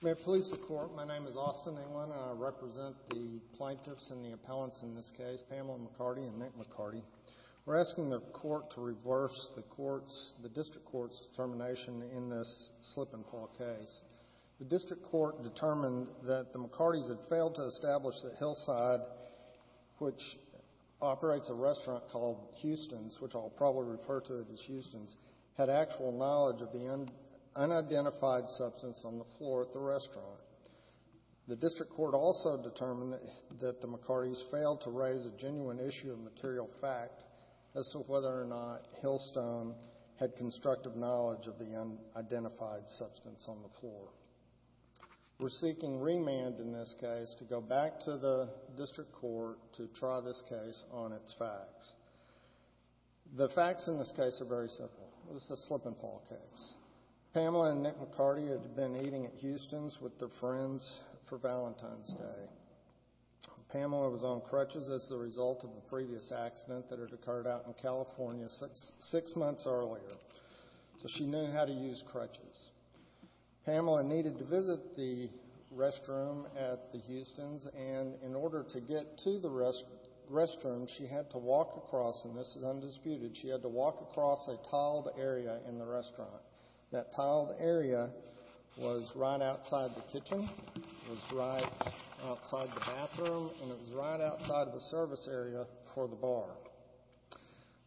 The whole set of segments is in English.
May it please the Court, my name is Austin England and I represent the plaintiffs and the appellants in this case, Pamela McCarty and Nick McCarty. We're asking the Court to The district court determined that the McCartys had failed to establish that Hillside, which operates a restaurant called Houston's, which I'll probably refer to it as Houston's, had actual knowledge of the unidentified substance on the floor at the restaurant. The district court also determined that the McCartys failed to raise a genuine issue of material fact as to whether or not Hillstone had constructive knowledge of the unidentified substance on the floor. We're seeking remand in this case to go back to the district court to try this case on its facts. The facts in this case are very simple. This is a slip and fall case. Pamela and Nick McCarty had been eating at Houston's with their friends for Valentine's Day. Pamela was on crutches as the result of a previous accident that had occurred out in California six months earlier, so she knew how to use crutches. Pamela needed to visit the restroom at the Houston's, and in order to get to the restroom, she had to walk across, and this is undisputed, she had to walk across a tiled area in the restaurant. That tiled area was right outside the kitchen, was right outside the bathroom, and it was right outside of the service area for the bar.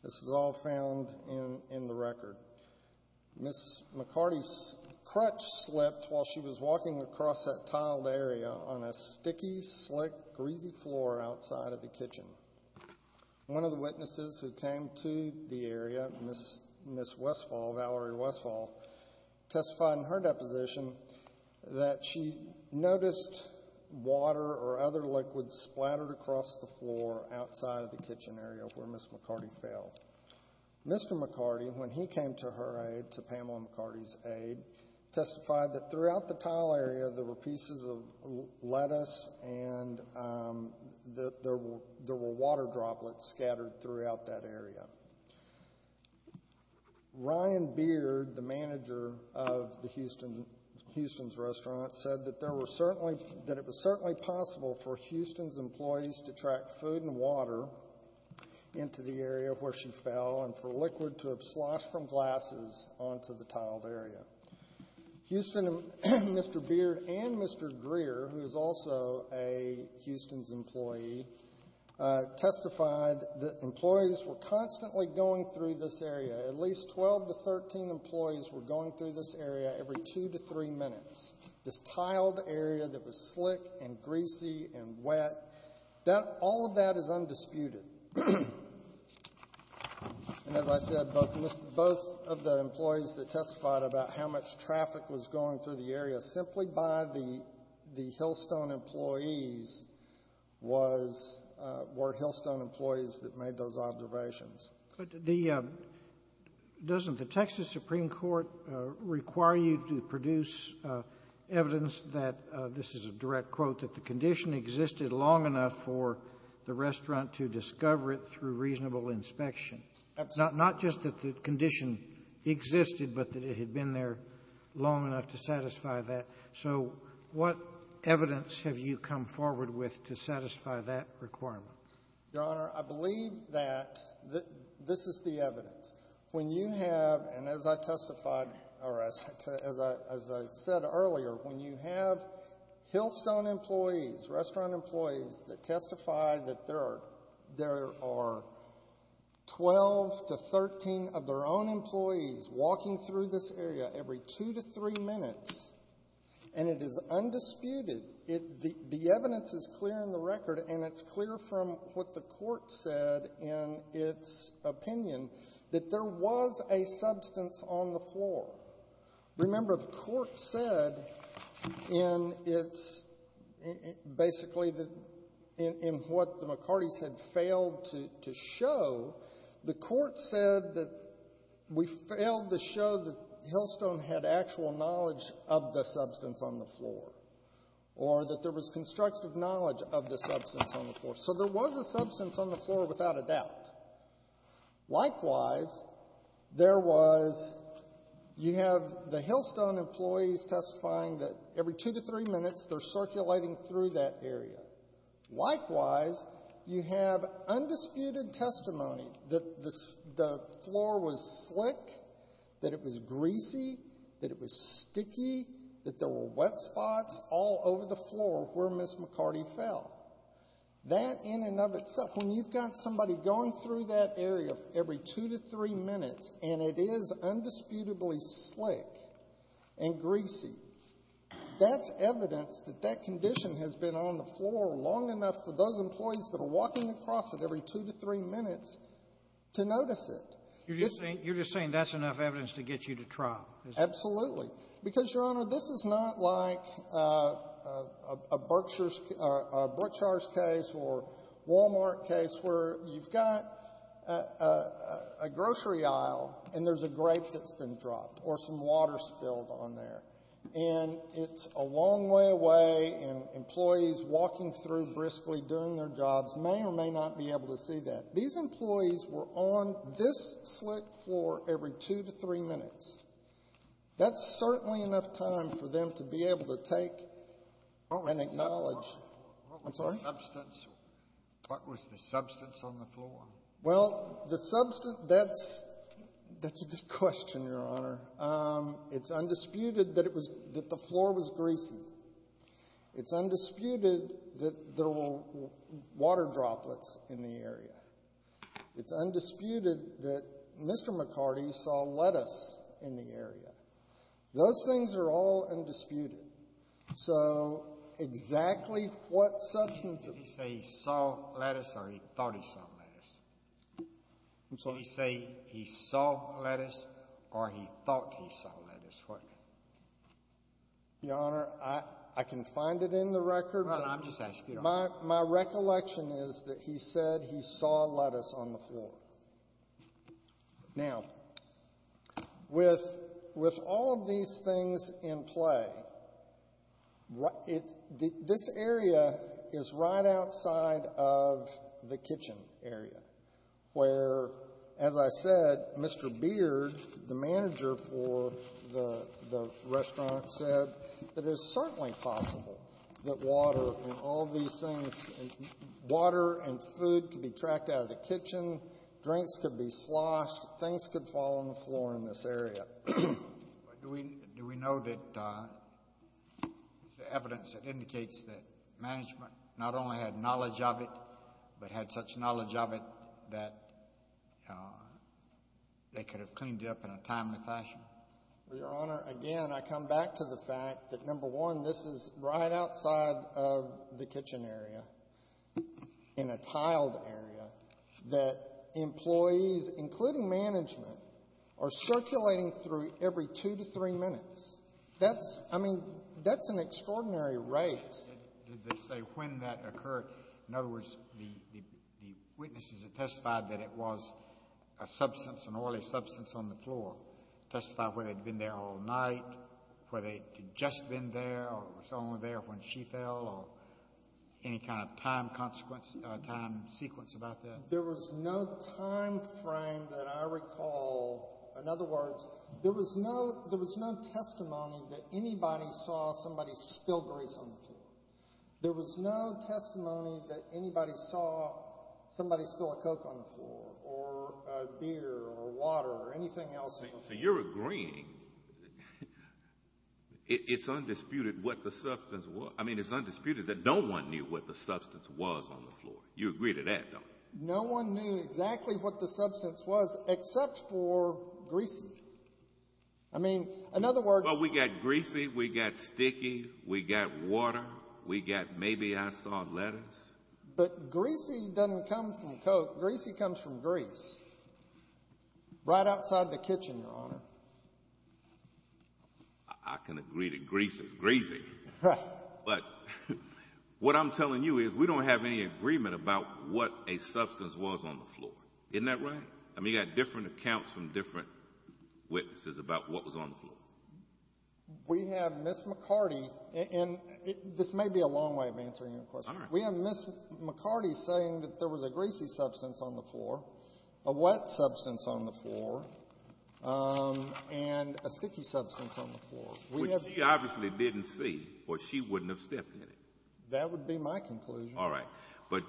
This is all found in the record. Ms. McCarty's crutch slipped while she was walking across that tiled area on a sticky, slick, greasy floor outside of the kitchen. One of the witnesses who came to the area, Ms. Westfall, Valerie Westfall, testified in her deposition that she noticed water or other liquids splattered across the floor outside of the kitchen area where Ms. McCarty fell. Mr. McCarty, when he came to her aid, to Pamela McCarty's aid, testified that throughout the tiled area there were pieces of lettuce and that there were water droplets scattered throughout that area. Ryan Beard, the manager of the Houston's restaurant, said that it was certainly possible for Houston's employees to track food and water into the area where she fell and for liquid to have sloshed from glasses onto the tiled area. Houston, Mr. Beard and Mr. Greer, who is also a Houston's employee, testified that employees were constantly going through this area. At least 12 to 13 employees were going through this area every two to three minutes. This tiled area that was slick and greasy and wet, all of that is undisputed. And as I said, both of the employees that testified about how much traffic was going through the area simply by the Hillstone employees were Hillstone employees that made those observations. But the — doesn't the Texas Supreme Court require you to produce evidence that — this is a direct quote — that the condition existed long enough for the restaurant to discover it through reasonable inspection? Absolutely. Not just that the condition existed, but that it had been there long enough to satisfy that. So what evidence have you come forward with to satisfy that requirement? Your Honor, I believe that this is the evidence. When you have — and as I testified — or as I said earlier, when you have Hillstone employees, restaurant employees, that testify that there are 12 to 13 of their own employees walking through this area every two to three minutes, and it is undisputed, the evidence is clear in the record, and it's clear from what the Court said in its opinion, that there was a substance on the floor. Or that there was constructive knowledge of the substance on the floor. So there was a substance on the floor without a doubt. Likewise, there was — you have the Hillstone employees testifying that every two to three minutes they're circulating through that area. Likewise, you have undisputed testimony that the floor was slick, that it was greasy, that it was sticky, that there were wet spots all over the floor where Ms. McCarty fell. That in and of itself, when you've got somebody going through that area every two to three minutes, and it is undisputedly slick and greasy, that's evidence that that condition has been on the floor long enough for those employees that are walking across it every two to three minutes to notice it. You're just saying that's enough evidence to get you to trial? Absolutely. Because, Your Honor, this is not like a Berkshire's case or a Wal-Mart case where you've got a grocery aisle and there's a grape that's been dropped or some water spilled on there. And it's a long way away, and employees walking through briskly during their jobs may or may not be able to see that. These employees were on this slick floor every two to three minutes. That's certainly enough time for them to be able to take and acknowledge. I'm sorry? What was the substance on the floor? Well, the substance, that's a good question, Your Honor. It's undisputed that the floor was greasy. It's undisputed that there were water droplets in the area. It's undisputed that Mr. McCarty saw lettuce in the area. Those things are all undisputed. So exactly what substance of the... Did he say he saw lettuce or he thought he saw lettuce? I'm sorry? Did he say he saw lettuce or he thought he saw lettuce? Your Honor, I can find it in the record, but... Well, I'm just asking. My recollection is that he said he saw lettuce on the floor. Now, with all of these things in play, this area is right outside of the kitchen area where, as I said, Mr. Beard, the manager for the restaurant, said it is certainly possible that water and all these things, water and food could be tracked out of the kitchen, drinks could be sloshed, things could fall on the floor in this area. Do we know that the evidence that indicates that management not only had knowledge of it, but had such knowledge of it that they could have cleaned it up in a timely fashion? Your Honor, again, I come back to the fact that, number one, this is right outside of the kitchen area in a tiled area that employees, including management, are circulating through every two to three minutes. That's, I mean, that's an extraordinary rate. Did they say when that occurred? In other words, the witnesses that testified that it was a substance, an oily substance on the floor, testified whether it had been there all night, whether it had just been there or was only there when she fell, or any kind of time consequence, time sequence about that? There was no time frame that I recall. In other words, there was no testimony that anybody saw somebody spill grease on the floor. There was no testimony that anybody saw somebody spill a Coke on the floor or a beer or water or anything else on the floor. So you're agreeing it's undisputed what the substance was. I mean, it's undisputed that no one knew what the substance was on the floor. You agree to that, don't you? No one knew exactly what the substance was except for greasy. I mean, in other words— But we got greasy, we got sticky, we got water, we got maybe I saw lettuce. But greasy doesn't come from Coke. Greasy comes from grease right outside the kitchen, Your Honor. I can agree that grease is greasy. But what I'm telling you is we don't have any agreement about what a substance was on the floor. Isn't that right? I mean, you got different accounts from different witnesses about what was on the floor. We have Ms. McCarty, and this may be a long way of answering your question. We have Ms. McCarty saying that there was a greasy substance on the floor, a wet substance on the floor, and a sticky substance on the floor. Which she obviously didn't see, or she wouldn't have stepped in it. That would be my conclusion. All right. But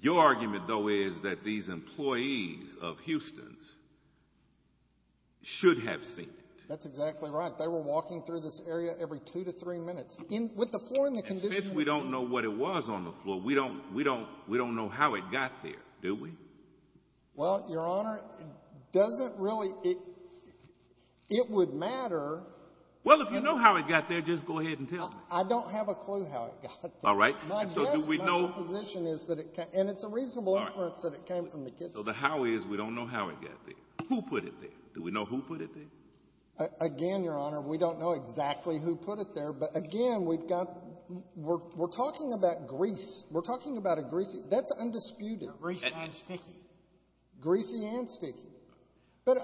your argument, though, is that these employees of Houston's should have seen it. That's exactly right. They were walking through this area every two to three minutes. With the floor in the condition— And since we don't know what it was on the floor, we don't know how it got there, do we? Well, Your Honor, it doesn't really—it would matter— Well, if you know how it got there, just go ahead and tell me. I don't have a clue how it got there. All right. My guess, my supposition is that it—and it's a reasonable inference that it came from the kitchen. So the how is we don't know how it got there. Who put it there? Do we know who put it there? Again, Your Honor, we don't know exactly who put it there. But again, we've got—we're talking about grease. We're talking about a greasy—that's undisputed. Greasy and sticky. Greasy and sticky. But,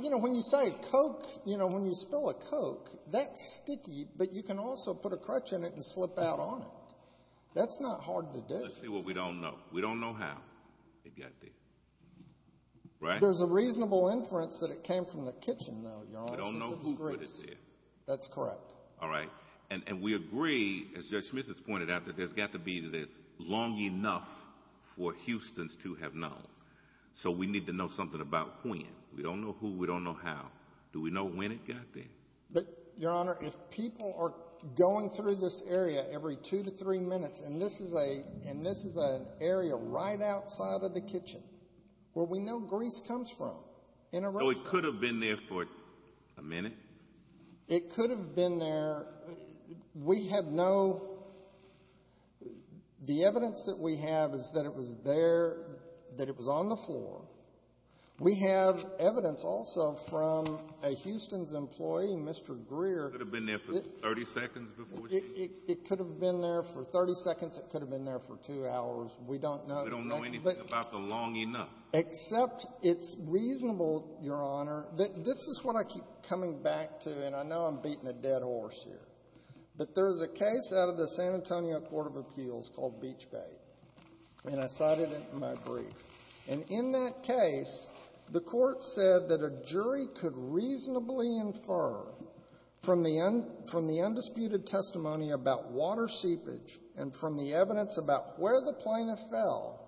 you know, when you say Coke, you know, when you spill a Coke, that's sticky, but you can also put a crutch in it and slip out on it. That's not hard to do. Let's see what we don't know. We don't know how it got there. Right? There's a reasonable inference that it came from the kitchen, though, Your Honor. We don't know who put it there. That's correct. All right. And we agree, as Judge Smith has pointed out, that there's got to be this long enough for Houstons to have known. So we need to know something about when. We don't know who. We don't know how. Do we know when it got there? But, Your Honor, if people are going through this area every two to three minutes, and this is an area right outside of the kitchen where we know grease comes from in a restaurant— So it could have been there for a minute? It could have been there. We have no—the evidence that we have is that it was there, that it was on the floor. We have evidence also from a Houstons employee, Mr. Greer— It could have been there for 30 seconds before she— It could have been there for 30 seconds. It could have been there for two hours. We don't know. We don't know anything about the long enough. Except it's reasonable, Your Honor— This is what I keep coming back to, and I know I'm beating a dead horse here, but there's a case out of the San Antonio Court of Appeals called Beachgate, and I cited it in my brief. And in that case, the court said that a jury could reasonably infer from the undisputed testimony about water seepage and from the evidence about where the plaintiff fell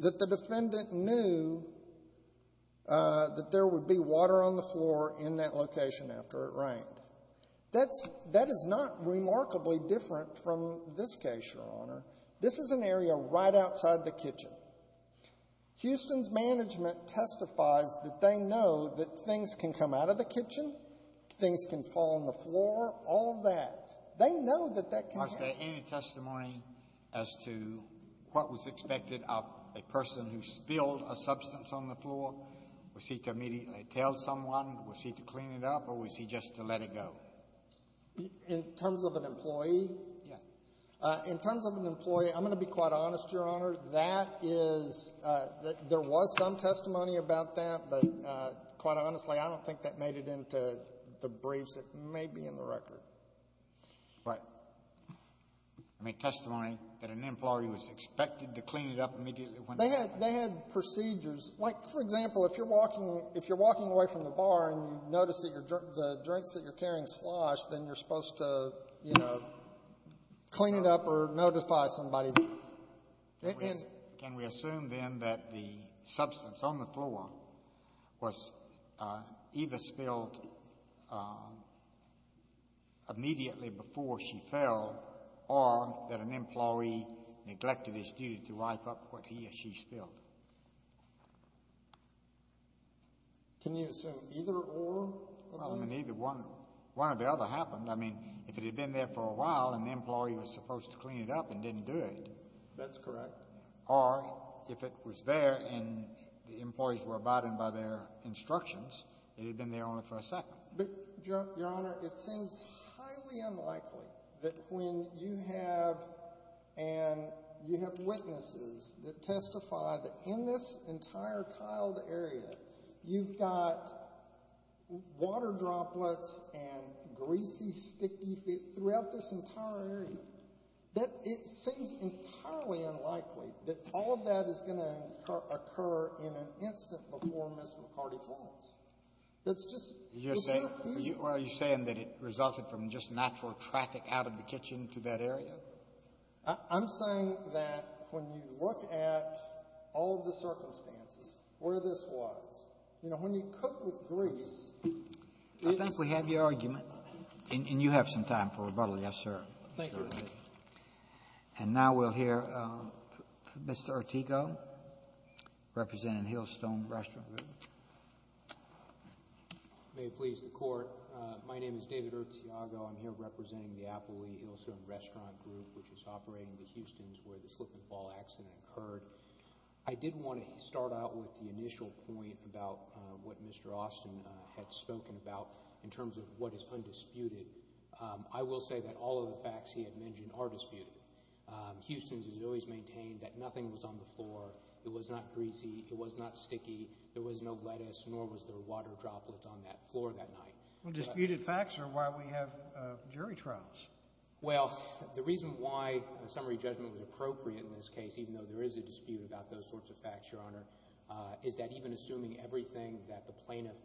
that the defendant knew that there would be water on the floor in that location after it rained. That's — that is not remarkably different from this case, Your Honor. This is an area right outside the kitchen. Houston's management testifies that they know that things can come out of the kitchen, things can fall on the floor, all of that. They know that that can happen. Was there any testimony as to what was expected of a person who spilled a substance on the floor? Was he to immediately tell someone? Was he to clean it up, or was he just to let it go? In terms of an employee? Yes. In terms of an employee, I'm going to be quite honest, Your Honor. That is — there was some testimony about that, but quite honestly, I don't think that made it into the briefs that may be in the record. Right. There was no testimony that an employee was expected to clean it up immediately when they fell. They had procedures. Like, for example, if you're walking away from the bar and you notice that the drinks that you're carrying slosh, then you're supposed to, you know, clean it up or notify somebody. Can we assume, then, that the substance on the floor was either spilled immediately before she fell or that an employee neglected his duty to wipe up what he or she spilled? Can you assume either or? Well, I mean, either one. One or the other happened. I mean, if it had been there for a while and the employee was supposed to clean it up and didn't do it. That's correct. Or if it was there and the employees were abiding by their instructions, it had been there only for a second. But, Your Honor, it seems highly unlikely that when you have witnesses that testify that in this entire tiled area you've got water droplets and greasy, sticky feet throughout this entire area, that it seems entirely unlikely that all of that is going to occur in an instant before Ms. McCarty falls. It's just the bare feet. Are you saying that it resulted from just natural traffic out of the kitchen to that area? I'm saying that when you look at all of the circumstances where this was, you know, when you cook with grease, it's the same. I think we have your argument. And you have some time for rebuttal. Yes, sir. Thank you. And now we'll hear Mr. Ortega, representing Hillstone Restaurant Group. May it please the Court. My name is David Ortega. I'm here representing the Applee-Hillstone Restaurant Group, which is operating the Houstons where the slip-and-fall accident occurred. I did want to start out with the initial point about what Mr. Austin had spoken about in terms of what is undisputed. I will say that all of the facts he had mentioned are disputed. Houston has always maintained that nothing was on the floor. It was not greasy. It was not sticky. There was no lettuce, nor was there water droplets on that floor that night. Well, disputed facts are why we have jury trials. Well, the reason why a summary judgment was appropriate in this case, even though there is a dispute about those sorts of facts, Your Honor, is that even assuming everything that the plaintiff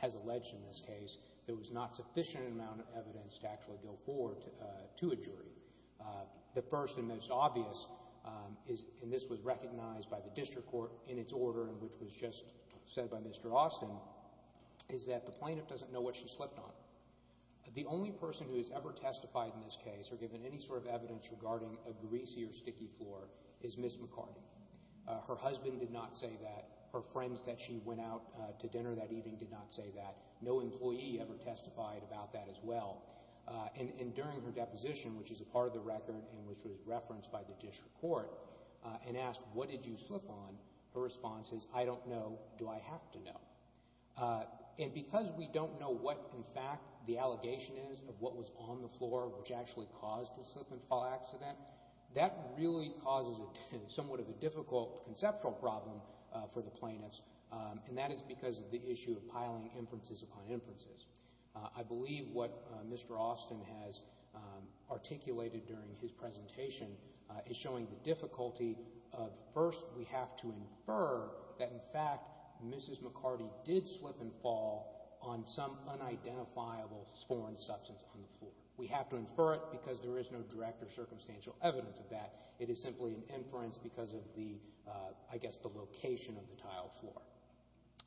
has alleged in this case, there was not sufficient amount of evidence to actually go forward to a jury. The first and most obvious, and this was recognized by the district court in its order, which was just said by Mr. Austin, is that the plaintiff doesn't know what she slipped on. The only person who has ever testified in this case or given any sort of evidence regarding a greasy or sticky floor is Ms. McCarty. Her husband did not say that. Her friends that she went out to dinner that evening did not say that. No employee ever testified about that as well. And during her deposition, which is a part of the record and which was referenced by the district court, and asked, What did you slip on? Her response is, I don't know. Do I have to know? And because we don't know what, in fact, the allegation is of what was on the floor which actually caused the slip and fall accident, that really causes somewhat of a difficult conceptual problem for the plaintiffs, and that is because of the differences upon inferences. I believe what Mr. Austin has articulated during his presentation is showing the difficulty of, first, we have to infer that, in fact, Mrs. McCarty did slip and fall on some unidentifiable foreign substance on the floor. We have to infer it because there is no direct or circumstantial evidence of that. It is simply an inference because of the, I guess, the location of the tile floor.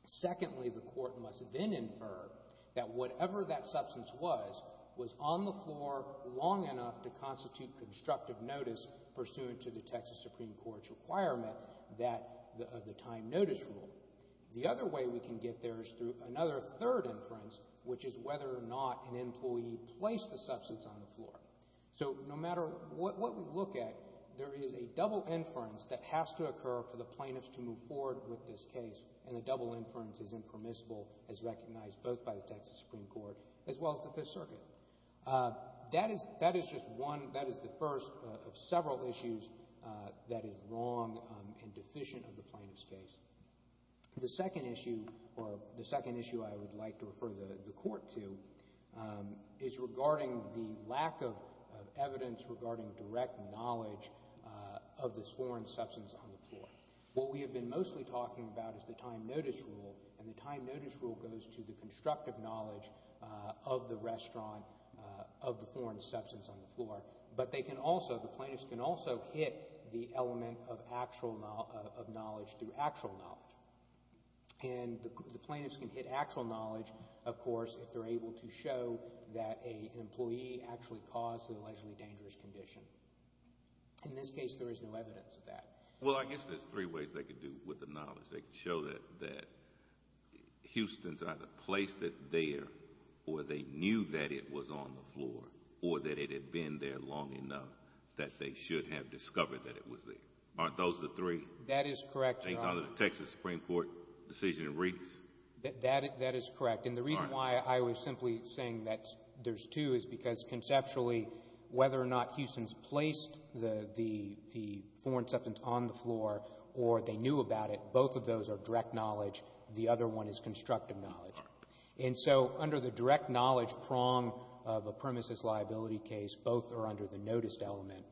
Secondly, the court must then infer that whatever that substance was, was on the floor long enough to constitute constructive notice pursuant to the Texas Supreme Court's requirement that the time notice rule. The other way we can get there is through another third inference, which is whether or not an employee placed the substance on the floor. So no matter what we look at, there is a double inference that has to occur for the plaintiffs to move forward with this case, and the double inference is impermissible as recognized both by the Texas Supreme Court as well as the Fifth Circuit. That is just one, that is the first of several issues that is wrong and deficient of the plaintiff's case. The second issue, or the second issue I would like to refer the court to, is regarding the lack of evidence regarding direct knowledge of this foreign substance on the floor. What we have been mostly talking about is the time notice rule, and the time notice rule goes to the constructive knowledge of the restaurant, of the foreign substance on the floor. But they can also, the plaintiffs can also hit the element of actual knowledge through actual knowledge. And the plaintiffs can hit actual knowledge, of course, if they're able to show that an employee actually caused the allegedly dangerous condition. In this case, there is no evidence of that. Well, I guess there's three ways they could do with the knowledge. They could show that Houston's either placed it there, or they knew that it was on the floor, or that it had been there long enough that they should have discovered that it was there. Aren't those the three? That is correct, Your Honor. Things under the Texas Supreme Court decision in Reed's? That is correct. And the reason why I was simply saying that there's two is because conceptually, whether or not Houston's placed the foreign substance on the floor, or they knew about it, both of those are direct knowledge. The other one is constructive knowledge. And so under the direct knowledge prong of a premises liability case, both are under the noticed element.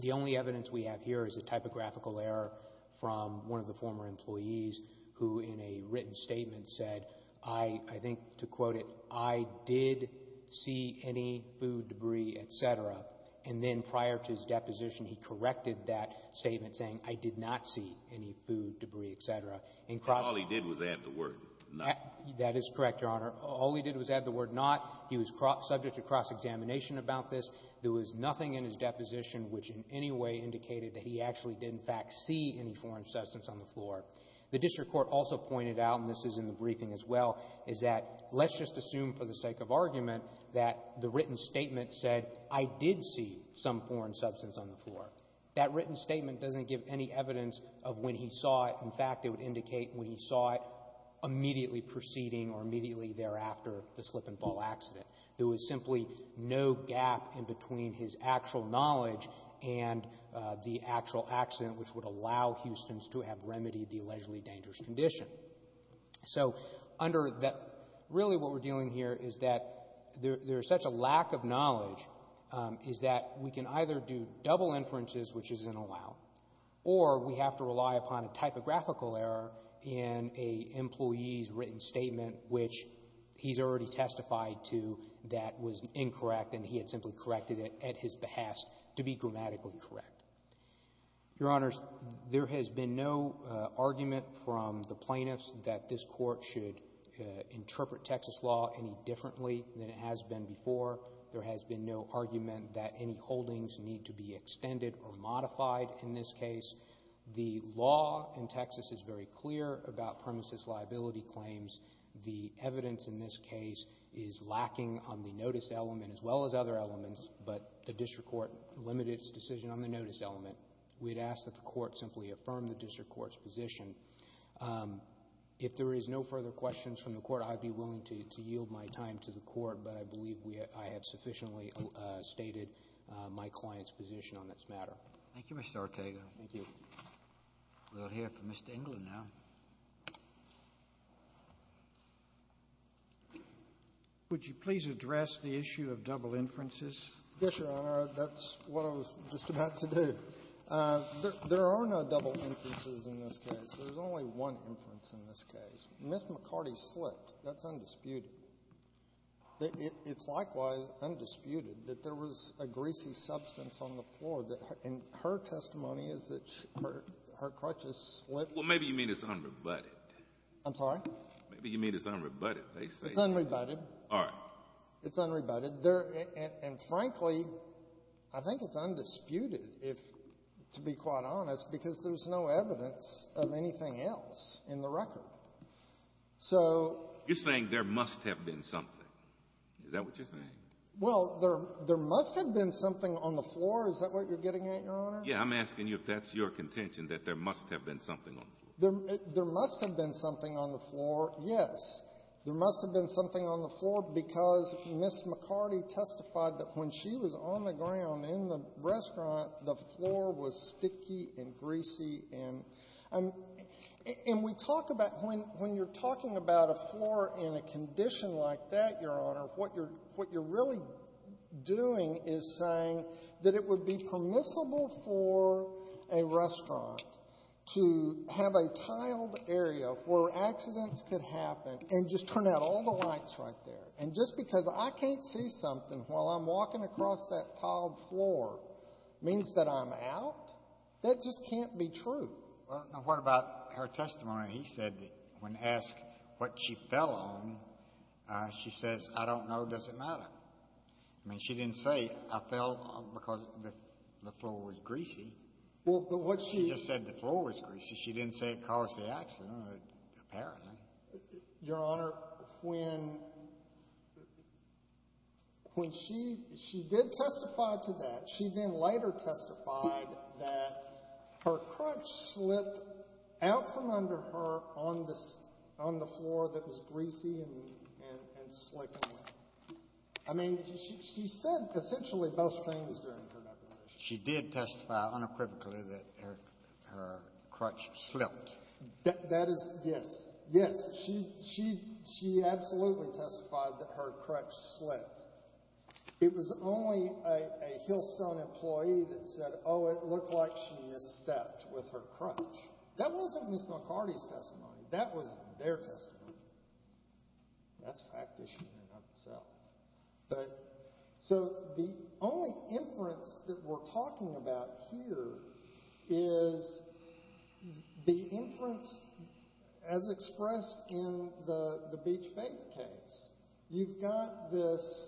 The only evidence we have here is a typographical error from one of the former employees, who in a written statement said, I think to quote it, I did see any food debris, et cetera. And then prior to his deposition, he corrected that statement saying, I did not see any food debris, et cetera. And all he did was add the word not. That is correct, Your Honor. All he did was add the word not. He was subject to cross-examination about this. There was nothing in his deposition which in any way indicated that he actually did in fact see any foreign substance on the floor. The district court also pointed out, and this is in the briefing as well, is that let's just assume for the sake of argument that the written statement said, I did see some foreign substance on the floor. That written statement doesn't give any evidence of when he saw it. In fact, it would indicate when he saw it immediately preceding or immediately thereafter the slip-and-fall accident. There was simply no gap in between his actual knowledge and the actual accident which would allow Houstons to have remedied the allegedly dangerous condition. So under that, really what we're dealing here is that there is such a lack of knowledge is that we can either do double inferences, which isn't allowed, or we have to rely upon a typographical error in an employee's written statement which he's already testified to that was incorrect and he had simply corrected it at his behest to be grammatically correct. Your Honors, there has been no argument from the plaintiffs that this Court should interpret Texas law any differently than it has been before. There has been no argument that any holdings need to be extended or modified in this case. The law in Texas is very clear about premises liability claims. The evidence in this case is lacking on the notice element as well as other elements, but the district court limited its decision on the notice element. We'd ask that the court simply affirm the district court's position. If there is no further questions from the Court, I'd be willing to yield my time to the Court, but I believe I have sufficiently stated my client's position on this matter. Thank you, Mr. Ortega. Thank you. We'll hear from Mr. England now. Would you please address the issue of double inferences? Yes, Your Honor. That's what I was just about to do. There are no double inferences in this case. There's only one inference in this case. Ms. McCarty slipped. That's undisputed. It's likewise undisputed that there was a greasy substance on the floor. And her testimony is that her crutches slipped. Well, maybe you mean it's unrebutted. I'm sorry? Maybe you mean it's unrebutted. It's unrebutted. All right. It's unrebutted. And, frankly, I think it's undisputed, to be quite honest, because there's no evidence of anything else in the record. You're saying there must have been something. Is that what you're saying? Well, there must have been something on the floor. Is that what you're getting at, Your Honor? Yeah, I'm asking you if that's your contention, that there must have been something on the floor. There must have been something on the floor, yes. There must have been something on the floor because Ms. McCarty testified that when she was on the ground in the restaurant, the floor was sticky and greasy and we talk about when you're talking about a floor in a condition like that, Your Honor, what you're really doing is saying that it would be permissible for a restaurant to have a tiled area where accidents could happen and just turn out all the lights right there. And just because I can't see something while I'm walking across that tiled floor means that I'm out? That just can't be true. Well, what about her testimony? He said that when asked what she fell on, she says, I don't know. Does it matter? I mean, she didn't say, I fell because the floor was greasy. Well, but what she… She just said the floor was greasy. She didn't say it caused the accident, apparently. Your Honor, when she did testify to that, she then later testified that her crutch slipped out from under her on the floor that was greasy and slick. I mean, she said essentially both things during her deposition. She did testify unequivocally that her crutch slipped. That is – yes, yes. She absolutely testified that her crutch slipped. It was only a Hillstone employee that said, oh, it looked like she misstepped with her crutch. That wasn't Ms. McCarty's testimony. That was their testimony. That's a fact that she didn't have to sell. So the only inference that we're talking about here is the inference as expressed in the Beach Bay case. You've got this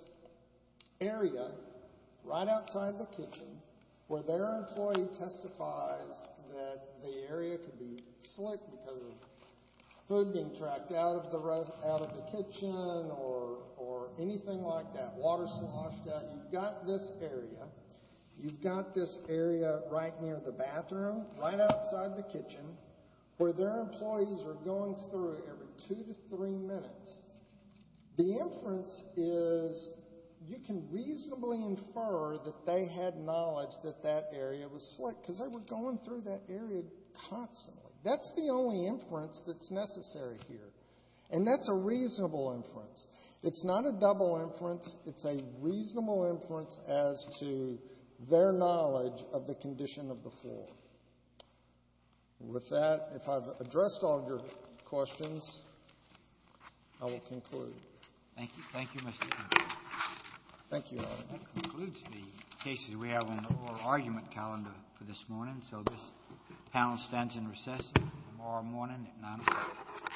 area right outside the kitchen where their employee testifies that the area could be slick because of food being tracked out of the kitchen or anything like that, water sloshed out. You've got this area. bathroom right outside the kitchen where their employees are going through every two to three minutes. The inference is you can reasonably infer that they had knowledge that that area was slick because they were going through that area constantly. That's the only inference that's necessary here. And that's a reasonable inference. It's not a double inference. It's a reasonable inference as to their knowledge of the condition of the floor. With that, if I've addressed all your questions, I will conclude. Thank you. Thank you, Mr. Connolly. Thank you, Your Honor. That concludes the cases we have on the oral argument calendar for this morning. So this panel stands in recess tomorrow morning at 9 o'clock.